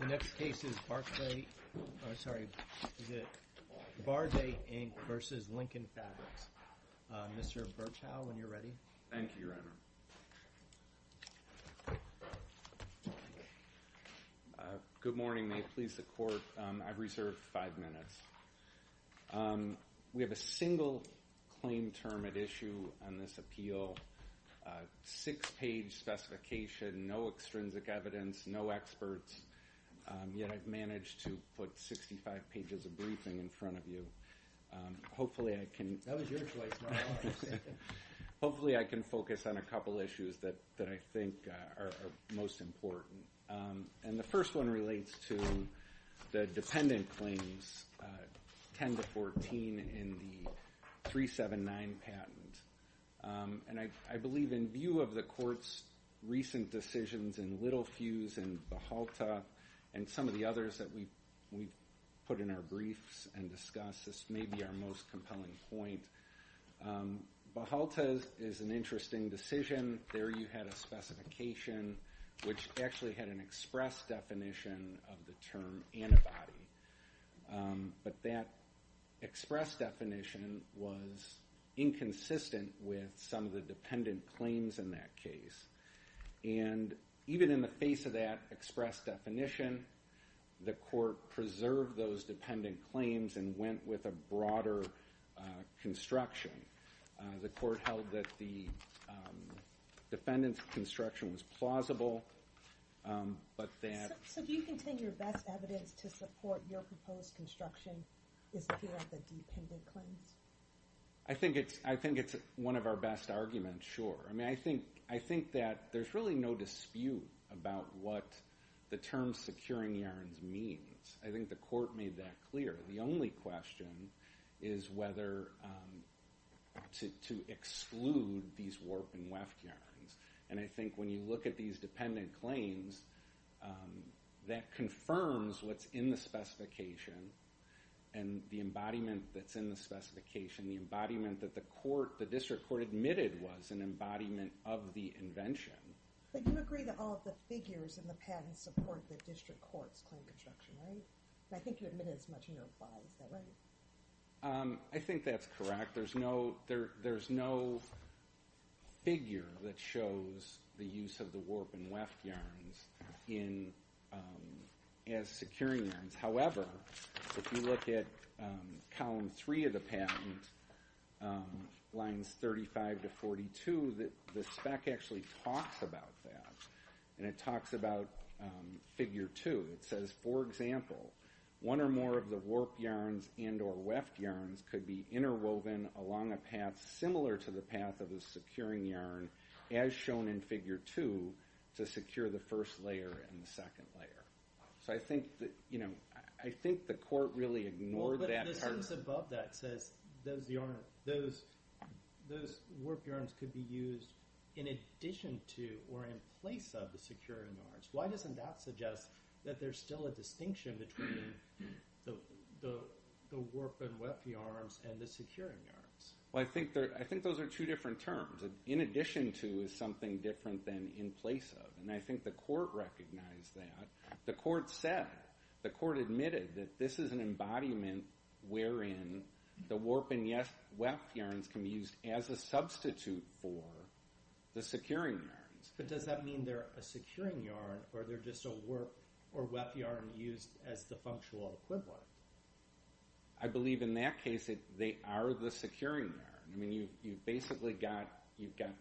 The next case is Barday, Inc. v. Lincoln Fabrics. Mr. Birchow, when you're ready. Thank you, Your Honor. Good morning. May it please the Court, I've reserved five minutes. We have a single claim term at issue on this appeal. Six-page specification, no extrinsic evidence, no experts, yet I've managed to put 65 pages of briefing in front of you. Hopefully I can focus on a couple issues that I think are most important. And the first one relates to the dependent claims, 10-14 in the 379 patent. And I believe in view of the Court's recent decisions in Littlefuse and Behalta and some of the others that we've put in our briefs and discussed, this may be our most compelling point. Behalta is an interesting decision. There you had a specification which actually had an express definition of the term antibody. But that express definition was inconsistent with some of the dependent claims in that case. And even in the face of that express definition, the Court preserved those dependent claims and went with a broader construction. The Court held that the defendant's construction was plausible, but that... So do you contain your best evidence to support your proposed construction is here at the dependent claims? I think it's one of our best arguments, sure. I mean, I think that there's really no dispute about what the term securing yarns means. I think the Court made that clear. The only question is whether to exclude these warp and weft yarns. And I think when you look at these dependent claims, that confirms what's in the specification and the embodiment that's in the specification, the embodiment that the District Court admitted was an embodiment of the invention. But you agree that all of the figures in the patent support the District Court's claim construction, right? And I think you admitted as much in your reply. Is that right? I think that's correct. There's no figure that shows the use of the warp and weft yarns as securing yarns. However, if you look at column 3 of the patent, lines 35 to 42, the spec actually talks about that, and it talks about figure 2. It says, for example, one or more of the warp yarns and or weft yarns could be interwoven along a path similar to the path of a securing yarn, as shown in figure 2, to secure the first layer and the second layer. So I think the Court really ignored that part. But the sentence above that says those warp yarns could be used in addition to or in place of the securing yarns. Why doesn't that suggest that there's still a distinction between the warp and weft yarns and the securing yarns? Well, I think those are two different terms. In addition to is something different than in place of, and I think the Court recognized that. The Court said, the Court admitted that this is an embodiment wherein the warp and weft yarns can be used as a substitute for the securing yarns. But does that mean they're a securing yarn or they're just a warp or weft yarn used as the functional equivalent? I believe in that case they are the securing yarn. I mean, you've basically got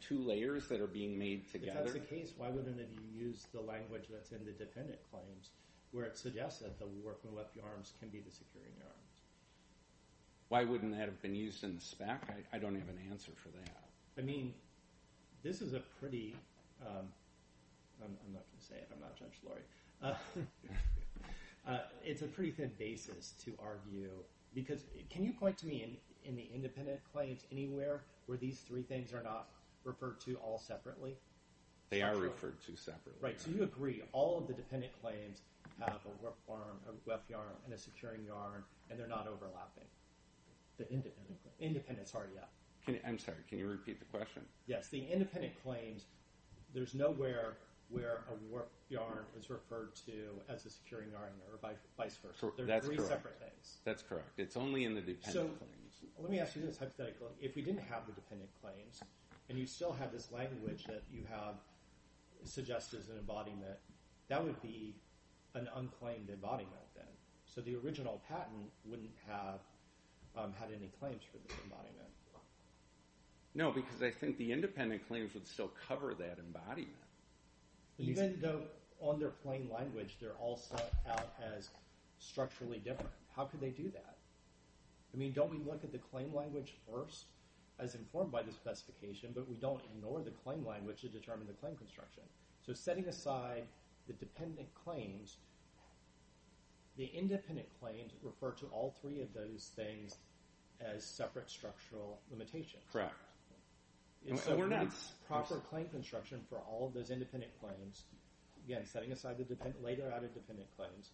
two layers that are being made together. If that's the case, why wouldn't it use the language that's in the defendant claims where it suggests that the warp and weft yarns can be the securing yarns? Why wouldn't that have been used in the spec? I don't have an answer for that. I mean, this is a pretty, I'm not going to say it, I'm not Judge Laurie. It's a pretty thin basis to argue, because can you point to me in the independent claims anywhere where these three things are not referred to all separately? They are referred to separately. Right, so you agree, all of the dependent claims have a warp yarn, a weft yarn, and a securing yarn, and they're not overlapping. The independent claims. Independent, sorry, yeah. I'm sorry, can you repeat the question? Yes, the independent claims, there's nowhere where a warp yarn is referred to as a securing yarn or vice versa. They're three separate things. That's correct. It's only in the dependent claims. Let me ask you this hypothetically. If we didn't have the dependent claims and you still have this language that you have suggested as an embodiment, that would be an unclaimed embodiment then. So the original patent wouldn't have had any claims for this embodiment. No, because I think the independent claims would still cover that embodiment. Even though on their plain language they're all set out as structurally different. How could they do that? I mean, don't we look at the claim language first, as informed by the specification, but we don't ignore the claim language to determine the claim construction. So setting aside the dependent claims, the independent claims refer to all three of those things as separate structural limitations. Correct. So it's proper claim construction for all of those independent claims. Again, setting aside the later added dependent claims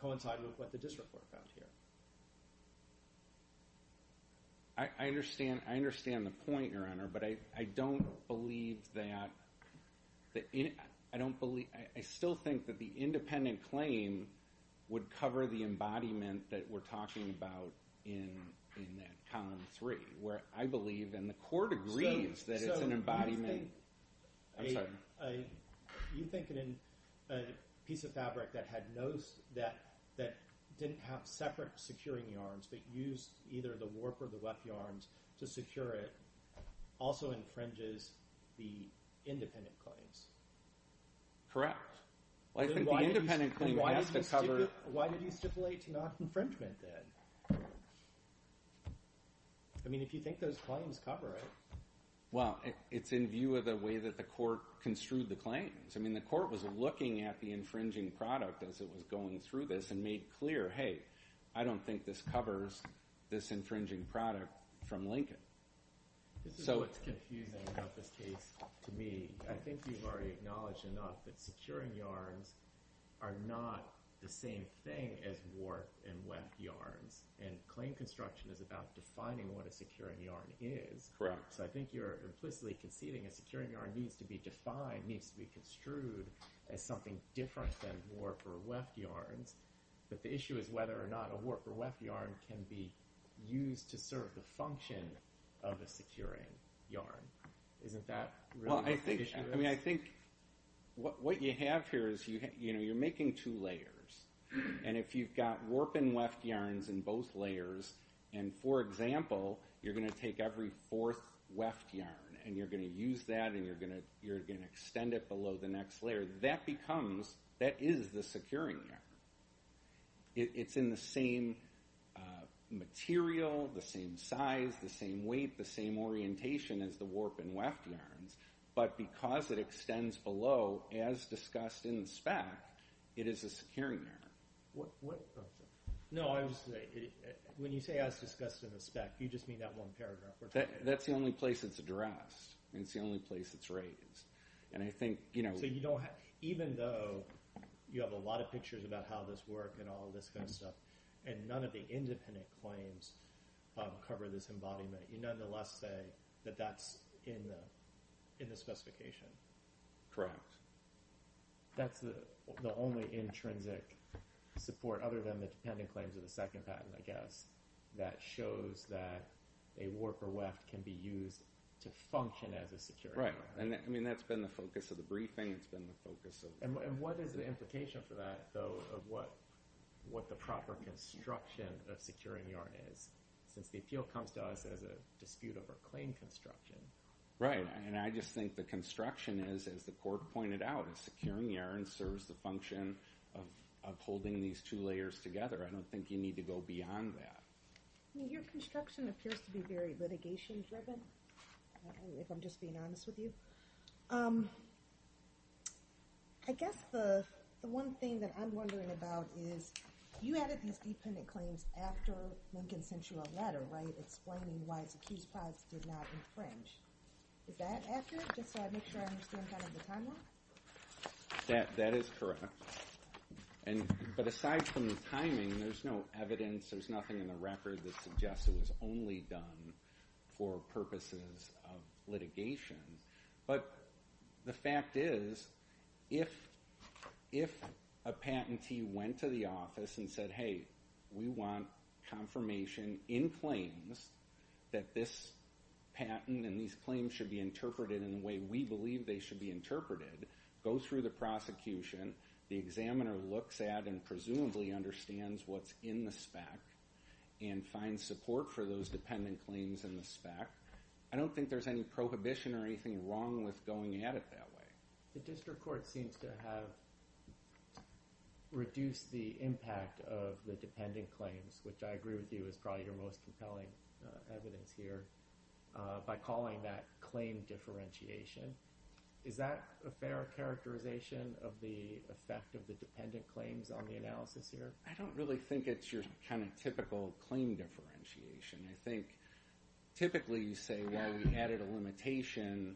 coincide with what the district court found here. I understand the point, Your Honor, but I don't believe that. I still think that the independent claim would cover the embodiment that we're talking about in that column three, where I believe and the court agrees that it's an embodiment. You think a piece of fabric that didn't have separate securing yarns but used either the warp or the weft yarns to secure it also infringes the independent claims? Correct. Why did you stipulate to not infringement then? I mean, if you think those claims cover it. Well, it's in view of the way that the court construed the claims. I mean, the court was looking at the infringing product as it was going through this and made clear, hey, I don't think this covers this infringing product from Lincoln. This is what's confusing about this case to me. I think you've already acknowledged enough that securing yarns are not the same thing as warp and weft yarns, and claim construction is about defining what a securing yarn is. Correct. So I think you're implicitly conceding a securing yarn needs to be defined, needs to be construed as something different than warp or weft yarns, but the issue is whether or not a warp or weft yarn can be used to serve the function of a securing yarn. Isn't that really the issue? I think what you have here is you're making two layers, and if you've got warp and weft yarns in both layers, and, for example, you're going to take every fourth weft yarn and you're going to use that and you're going to extend it below the next layer, that is the securing yarn. It's in the same material, the same size, the same weight, the same orientation as the warp and weft yarns, but because it extends below, as discussed in the spec, it is a securing yarn. No, when you say, as discussed in the spec, you just mean that one paragraph. That's the only place it's addressed. It's the only place it's raised. So even though you have a lot of pictures about how this works and all this kind of stuff, and none of the independent claims cover this embodiment, you nonetheless say that that's in the specification. Correct. That's the only intrinsic support, other than the dependent claims of the second patent, I guess, that shows that a warp or weft can be used to function as a securing yarn. Right, and that's been the focus of the briefing. And what is the implication for that, though, of what the proper construction of securing yarn is, since the appeal comes to us as a dispute over claim construction? Right, and I just think the construction is, as the court pointed out, a securing yarn serves the function of holding these two layers together. I don't think you need to go beyond that. Your construction appears to be very litigation-driven, if I'm just being honest with you. I guess the one thing that I'm wondering about is, you added these dependent claims after Lincoln sent you a letter, right, explaining why his accused products did not infringe. Is that accurate, just so I make sure I understand kind of the timeline? That is correct. But aside from the timing, there's no evidence, there's nothing in the record that suggests it was only done for purposes of litigation. But the fact is, if a patentee went to the office and said, hey, we want confirmation in claims that this patent and these claims should be interpreted in the way we believe they should be interpreted, go through the prosecution, the examiner looks at and presumably understands what's in the spec and finds support for those dependent claims in the spec, I don't think there's any prohibition or anything wrong with going at it that way. The district court seems to have reduced the impact of the dependent claims, which I agree with you is probably your most compelling evidence here, by calling that claim differentiation. Is that a fair characterization of the effect of the dependent claims on the analysis here? I don't really think it's your kind of typical claim differentiation. I think typically you say, well, we added a limitation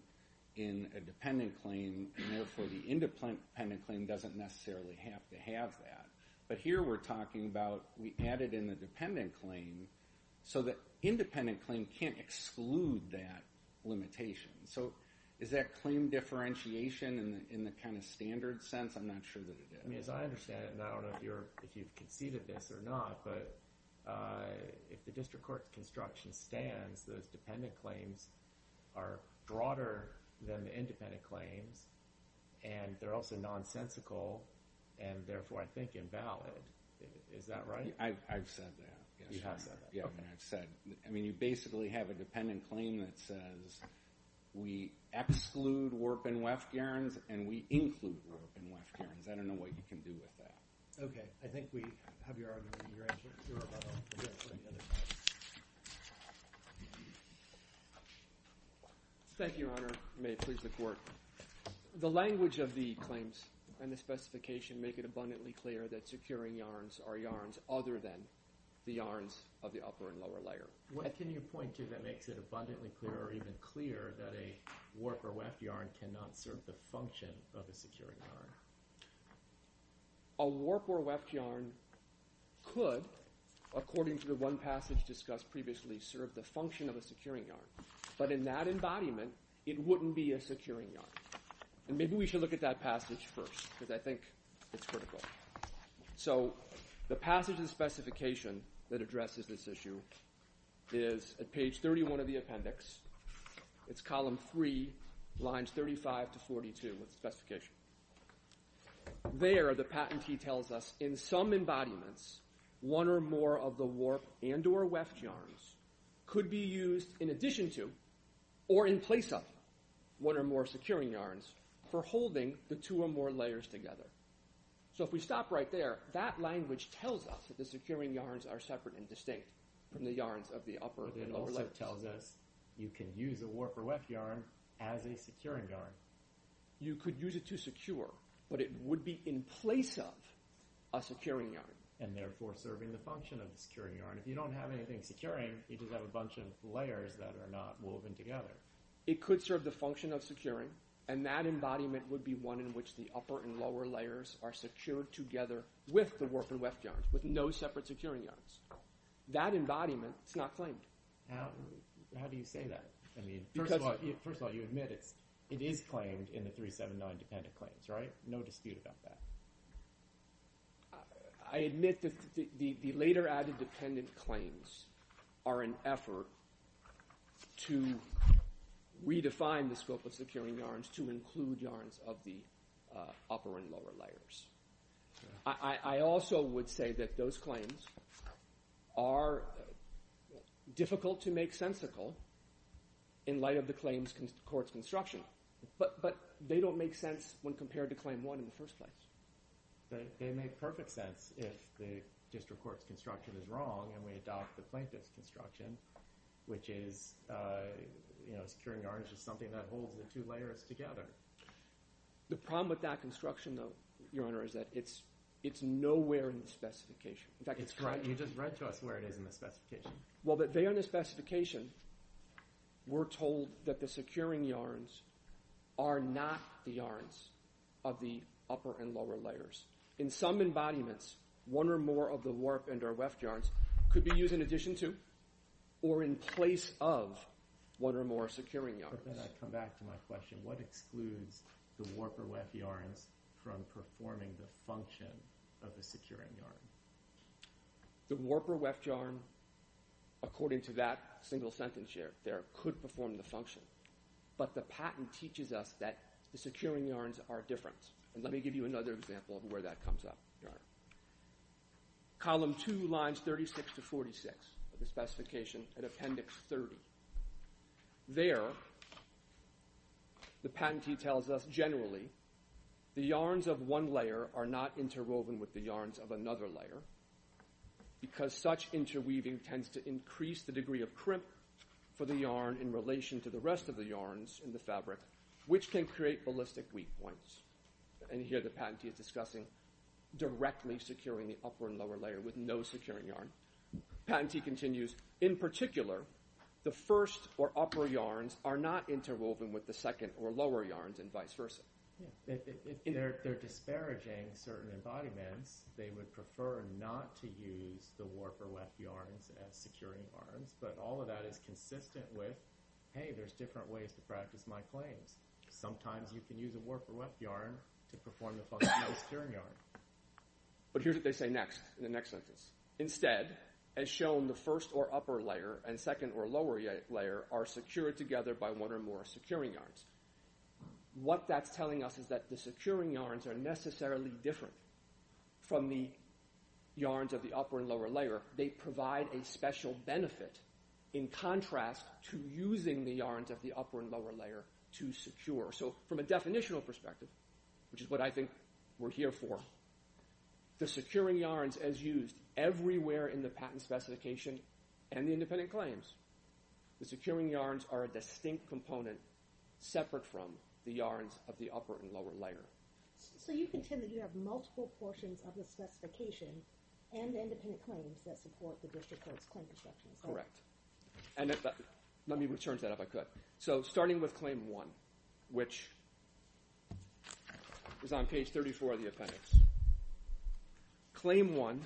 in a dependent claim, and therefore the independent claim doesn't necessarily have to have that. But here we're talking about we added in the dependent claim so the independent claim can't exclude that limitation. So is that claim differentiation in the kind of standard sense? I'm not sure that it is. As I understand it, and I don't know if you've conceded this or not, but if the district court's construction stands, those dependent claims are broader than the independent claims, and they're also nonsensical, and therefore I think invalid. Is that right? I've said that. You have said that. Yeah, I've said. I mean, you basically have a dependent claim that says, we exclude Warp and Weft Urns and we include Warp and Weft Urns. I don't know what you can do with that. Okay, I think we have your argument. You're above all. We'll go to the other side. Thank you, Your Honor. May it please the Court. The language of the claims and the specification make it abundantly clear that securing yarns are yarns other than the yarns of the upper and lower layer. Can you point to that makes it abundantly clear or even clear that a Warp or Weft yarn cannot serve the function of a securing yarn? A Warp or Weft yarn could, according to the one passage discussed previously, serve the function of a securing yarn. But in that embodiment, it wouldn't be a securing yarn. And maybe we should look at that passage first because I think it's critical. So the passage of the specification that addresses this issue is at page 31 of the appendix. There, the patentee tells us, in some embodiments, one or more of the Warp and or Weft yarns could be used in addition to or in place of one or more securing yarns for holding the two or more layers together. So if we stop right there, that language tells us that the securing yarns are separate and distinct from the yarns of the upper and lower layers. But it also tells us you can use a Warp or Weft yarn as a securing yarn. You could use it to secure, but it would be in place of a securing yarn. And therefore serving the function of the securing yarn. If you don't have anything securing, you just have a bunch of layers that are not woven together. It could serve the function of securing, and that embodiment would be one in which the upper and lower layers are secured together with the Warp and Weft yarns, with no separate securing yarns. That embodiment is not claimed. How do you say that? First of all, you admit it is claimed in the 379 dependent claims, right? No dispute about that. I admit that the later added dependent claims are an effort to redefine the scope of securing yarns to include yarns of the upper and lower layers. I also would say that those claims are difficult to make sensical in light of the claim's court's construction. But they don't make sense when compared to Claim 1 in the first place. They make perfect sense if the district court's construction is wrong and we adopt the plaintiff's construction, which is securing yarns is something that holds the two layers together. The problem with that construction, though, Your Honor, is that it's nowhere in the specification. In fact, it's correct. You just read to us where it is in the specification. Well, but there in the specification, we're told that the securing yarns are not the yarns of the upper and lower layers. In some embodiments, one or more of the Warp and or Weft yarns could be used in addition to or in place of one or more securing yarns. Before I come back to my question, what excludes the Warp or Weft yarns from performing the function of the securing yarn? The Warp or Weft yarn, according to that single sentence there, could perform the function. But the patent teaches us that the securing yarns are different. Let me give you another example of where that comes up, Your Honor. Column 2, lines 36 to 46 of the specification at Appendix 30. There, the patentee tells us generally the yarns of one layer are not interwoven with the yarns of another layer because such interweaving tends to increase the degree of crimp for the yarn in relation to the rest of the yarns in the fabric, which can create ballistic weak points. And here the patentee is discussing directly securing the upper and lower layer with no securing yarn. Patentee continues, in particular, the first or upper yarns are not interwoven with the second or lower yarns and vice versa. They're disparaging certain embodiments. They would prefer not to use the Warp or Weft yarns as securing yarns, but all of that is consistent with, hey, there's different ways to practice my claims. Sometimes you can use a Warp or Weft yarn to perform the function of a securing yarn. But here's what they say next in the next sentence. Instead, as shown, the first or upper layer and second or lower layer are secured together by one or more securing yarns. What that's telling us is that the securing yarns are necessarily different from the yarns of the upper and lower layer. They provide a special benefit in contrast to using the yarns of the upper and lower layer to secure. So from a definitional perspective, which is what I think we're here for, the securing yarns, as used everywhere in the patent specification and the independent claims, the securing yarns are a distinct component separate from the yarns of the upper and lower layer. So you contend that you have multiple portions of the specification and the independent claims that support the district court's claim presumptions. Correct. And let me return to that if I could. So starting with Claim 1, which is on page 34 of the appendix. Claim 1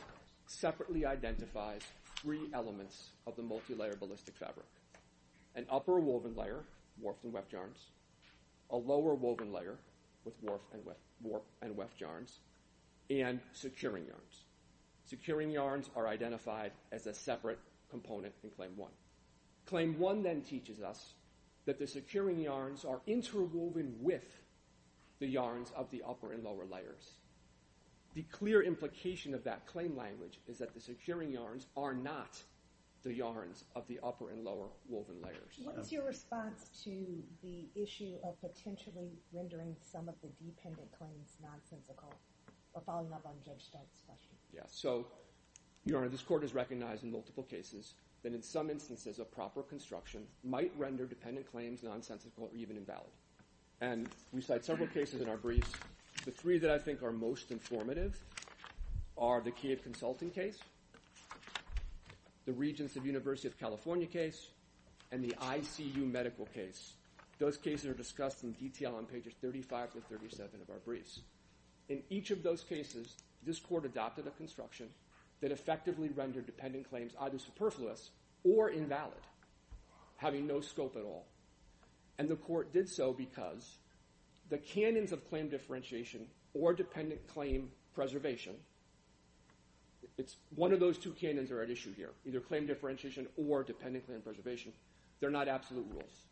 separately identifies three elements of the multilayer ballistic fabric. An upper woven layer, Warped and Weft yarns, a lower woven layer with Warped and Weft yarns, and securing yarns. Securing yarns are identified as a separate component in Claim 1. Claim 1 then teaches us that the securing yarns are interwoven with the yarns of the upper and lower layers. The clear implication of that claim language is that the securing yarns are not the yarns of the upper and lower woven layers. What is your response to the issue of potentially rendering some of the dependent claims nonsensical? Or following up on Judge Stark's question. So, Your Honor, this court has recognized in multiple cases that in some instances a proper construction might render dependent claims nonsensical or even invalid. And we cite several cases in our briefs. The three that I think are most informative are the Key of Consulting case, the Regents of University of California case, and the ICU medical case. Those cases are discussed in detail on pages 35 to 37 of our briefs. In each of those cases, this court adopted a construction that effectively rendered dependent claims either superfluous or invalid, having no scope at all. And the court did so because the canons of claim differentiation or dependent claim preservation, one of those two canons are at issue here, either claim differentiation or dependent claim preservation. They're not absolute rules.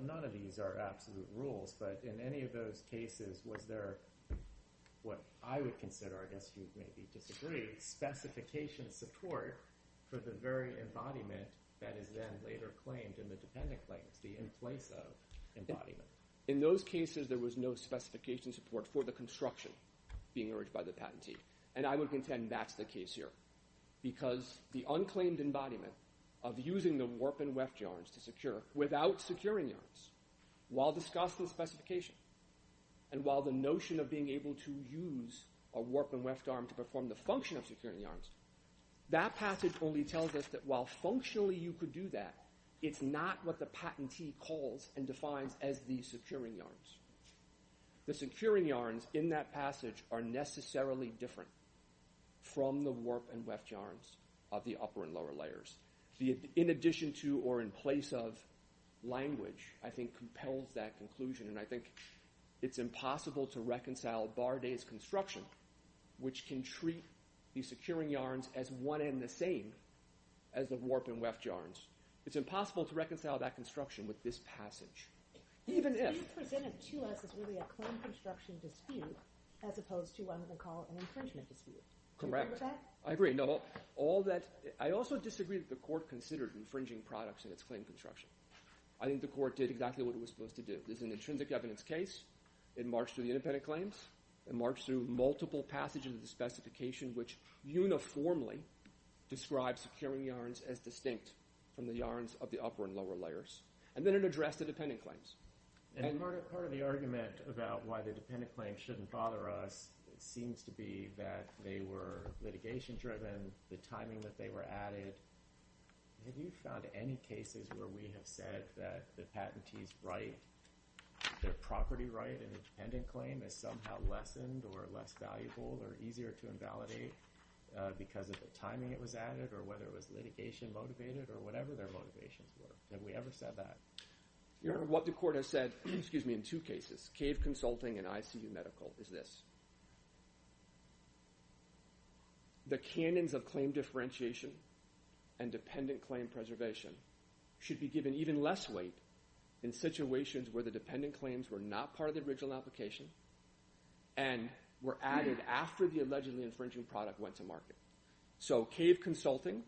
None of these are absolute rules, but in any of those cases, was there what I would consider, I guess you maybe disagree, specification support for the very embodiment that is then later claimed in the dependent claims, the in-place of embodiment. In those cases, there was no specification support for the construction being urged by the patentee. And I would contend that's the case here because the unclaimed embodiment of using the warp and weft yarns to secure without securing yarns while discussing specification and while the notion of being able to use a warp and weft yarn to perform the function of securing yarns, that passage only tells us that while functionally you could do that, it's not what the patentee calls and defines as the securing yarns. The securing yarns in that passage are necessarily different from the warp and weft yarns of the upper and lower layers. In addition to or in place of language, I think compels that conclusion and I think it's impossible to reconcile Bardet's construction, which can treat the securing yarns as one and the same as the warp and weft yarns. It's impossible to reconcile that construction with this passage. Even if... He presented to us as really a claim construction dispute as opposed to one that they call an infringement dispute. Correct. Do you agree with that? I agree. I also disagree that the court considered infringing products in its claim construction. I think the court did exactly what it was supposed to do. There's an intrinsic evidence case. It marched through the independent claims. It marched through multiple passages of the specification, which uniformly describes securing yarns as distinct from the yarns of the upper and lower layers. And then it addressed the dependent claims. And part of the argument about why the dependent claims shouldn't bother us seems to be that they were litigation-driven, the timing that they were added. Have you found any cases where we have said that the patentees' right, their property right in a dependent claim, is somehow lessened or less valuable or easier to invalidate because of the timing it was added or whether it was litigation-motivated or whatever their motivations were? Have we ever said that? Your Honor, what the court has said in two cases, CAVE Consulting and ICU Medical, is this. The canons of claim differentiation and dependent claim preservation should be given even less weight in situations where the dependent claims were not part of the original application and were added after the allegedly infringing product went to market. So CAVE Consulting,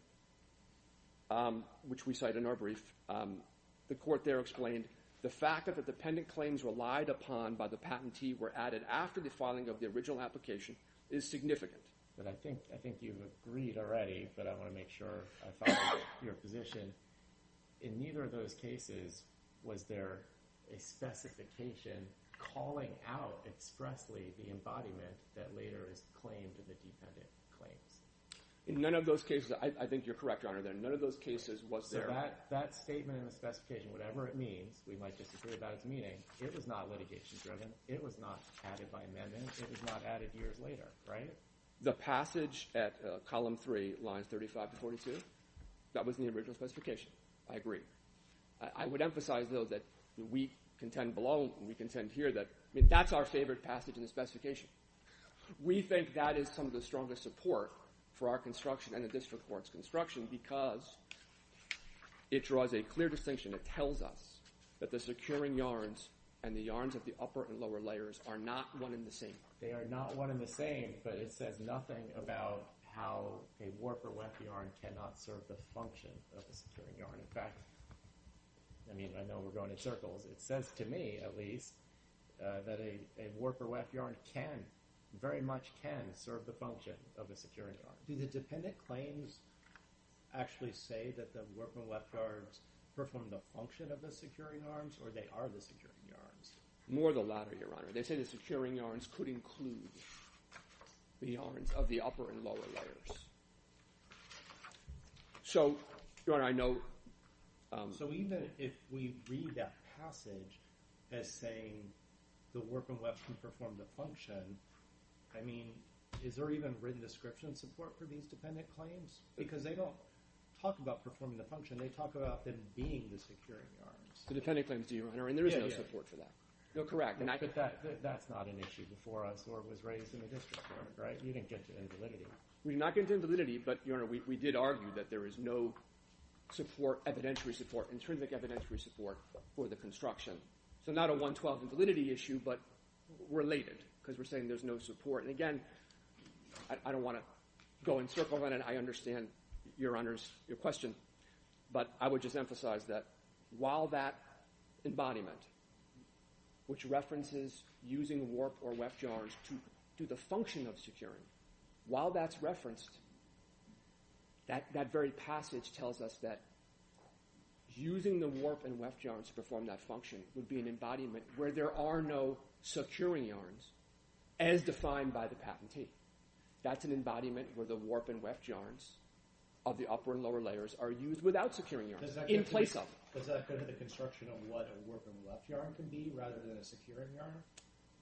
which we cite in our brief, the court there explained the fact that the dependent claims relied upon by the patentee were added after the filing of the original application is significant. I think you've agreed already, but I want to make sure I follow your position. In neither of those cases was there a specification calling out expressly the embodiment that later is claimed in the dependent claims. In none of those cases, I think you're correct, Your Honor, that none of those cases was there. So that statement in the specification, whatever it means, we might disagree about its meaning, it was not litigation-driven, it was not added by amendment, it was not added years later, right? The passage at column 3, lines 35 to 42, that was in the original specification. I agree. I would emphasize, though, that we contend below and we contend here that that's our favorite passage in the specification. We think that is some of the strongest support for our construction and the district court's construction because it draws a clear distinction. It tells us that the securing yarns and the yarns of the upper and lower layers are not one and the same. They are not one and the same, but it says nothing about how a warper weft yarn cannot serve the function of a securing yarn. In fact, I mean, I know we're going in circles. It says to me, at least, that a warper weft yarn can, very much can, serve the function of a securing yarn. Do the dependent claims actually say that the warper weft yarns perform the function of the securing yarns or they are the securing yarns? More the latter, Your Honor. They say the securing yarns could include the yarns of the upper and lower layers. So, Your Honor, I know... So even if we read that passage as saying the warper weft can perform the function, I mean, is there even written description support for these dependent claims? Because they don't talk about performing the function. They talk about them being the securing yarns. The dependent claims do, Your Honor, and there is no support for that. No, correct. But that's not an issue before us or was raised in the district court, right? You didn't get to invalidity. We did not get to invalidity, but, Your Honor, we did argue that there is no support, evidentiary support, intrinsic evidentiary support for the construction. So not a 112 invalidity issue, but related because we're saying there's no support. And again, I don't want to go in circles and I understand Your Honor's question, but I would just emphasize that while that embodiment, which references using warp or weft yarns to do the function of securing, while that's referenced, that very passage tells us that using the warp and weft yarns to perform that function would be an embodiment where there are no securing yarns, as defined by the patentee. That's an embodiment where the warp and weft yarns of the upper and lower layers are used without securing yarns in place of them. Does that go to the construction of what a warp and weft yarn can be rather than a securing yarn?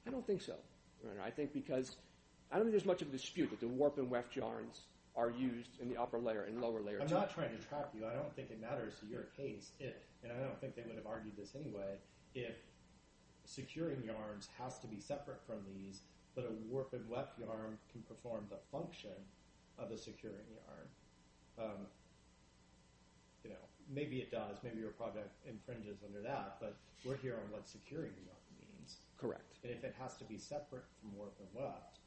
I don't think so, Your Honor. I think because, I don't think there's much of a dispute that the warp and weft yarns are used in the upper layer and lower layer too. I'm not trying to trap you. I don't think it matters to your case if, and I don't think they would have argued this anyway, if securing yarns has to be separate from these but a warp and weft yarn can perform the function of a securing yarn. You know, maybe it does, maybe your project infringes under that, but we're here on what securing yarn means. Correct. And if it has to be separate from warp and weft,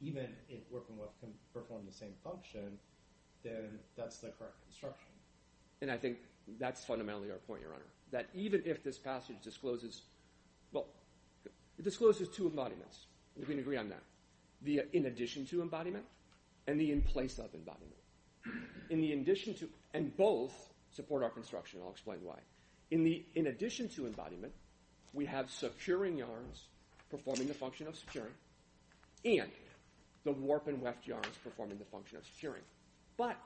even if warp and weft can perform the same function, then that's the correct construction. And I think that's fundamentally our point, Your Honor, that even if this passage discloses, well, it discloses two embodiments. We can agree on that. The in-addition-to embodiment and the in-place-of embodiment. In the in-addition-to, and both support our construction. I'll explain why. In the in-addition-to embodiment, we have securing yarns performing the function of securing and the warp and weft yarns performing the function of securing. But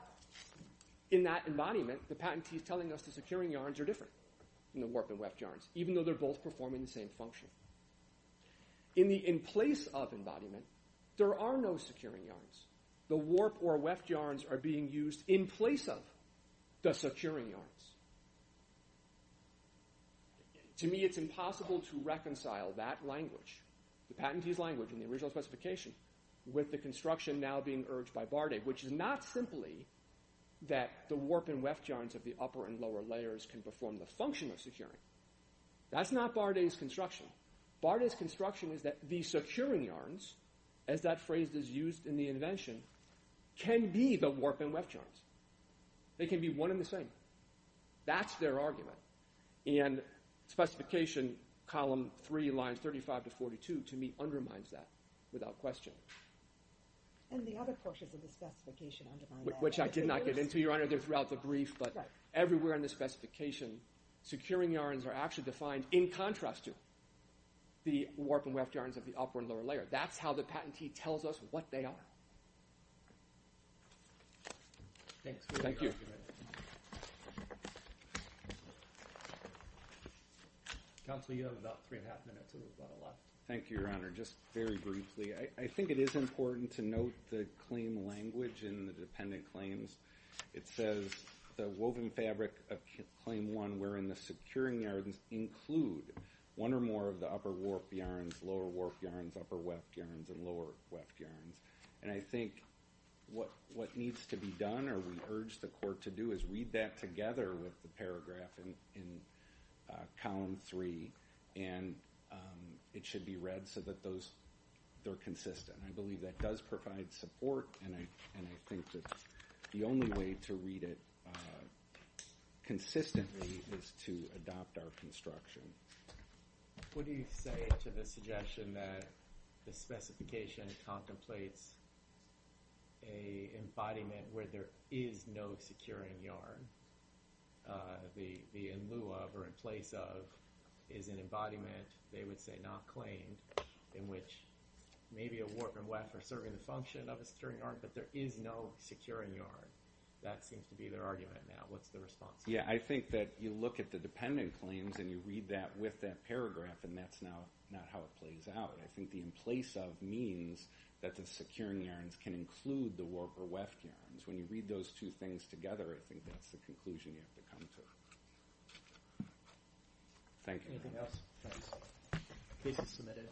in that embodiment, the patentee's telling us the securing yarns are different than the warp and weft yarns, even though they're both performing the same function. In the in-place-of embodiment, there are no securing yarns. The warp or weft yarns are being used in place of the securing yarns. To me, it's impossible to reconcile that language, the patentee's language in the original specification, with the construction now being urged by Bardet, which is not simply that the warp and weft yarns of the upper and lower layers can perform the function of securing. That's not Bardet's construction. Bardet's construction is that the securing yarns, as that phrase is used in the invention, can be the warp and weft yarns. They can be one and the same. That's their argument. And specification column 3, lines 35 to 42, to me, undermines that without question. And the other portions of the specification undermine that. Which I did not get into, Your Honor. They're throughout the brief, but everywhere in the specification, securing yarns are actually defined in contrast to the warp and weft yarns of the upper and lower layer. That's how the patentee tells us what they are. Thanks. Thank you. Counsel, you have about 3 1⁄2 minutes, and we've got a lot. Thank you, Your Honor. Just very briefly, I think it is important to note the claim language in the dependent claims. It says, the woven fabric of claim 1, wherein the securing yarns include one or more of the upper warp yarns, lower warp yarns, upper weft yarns, and lower weft yarns. And I think what needs to be done, or we urge the court to do, is read that together with the paragraph in column 3. And it should be read so that they're consistent. I believe that does provide support, and I think that the only way to read it consistently is to adopt our construction. What do you say to the suggestion that the specification contemplates an embodiment where there is no securing yarn? The in lieu of or in place of is an embodiment, they would say not claimed, in which maybe a warp and weft are serving the function of a securing yarn, but there is no securing yarn. That seems to be their argument now. What's the response? Yeah, I think that you look at the dependent claims and you read that with that paragraph, and that's not how it plays out. I think the in place of means that the securing yarns can include the warp or weft yarns. When you read those two things together, I think that's the conclusion you have to come to. Thank you. Anything else? Case is submitted.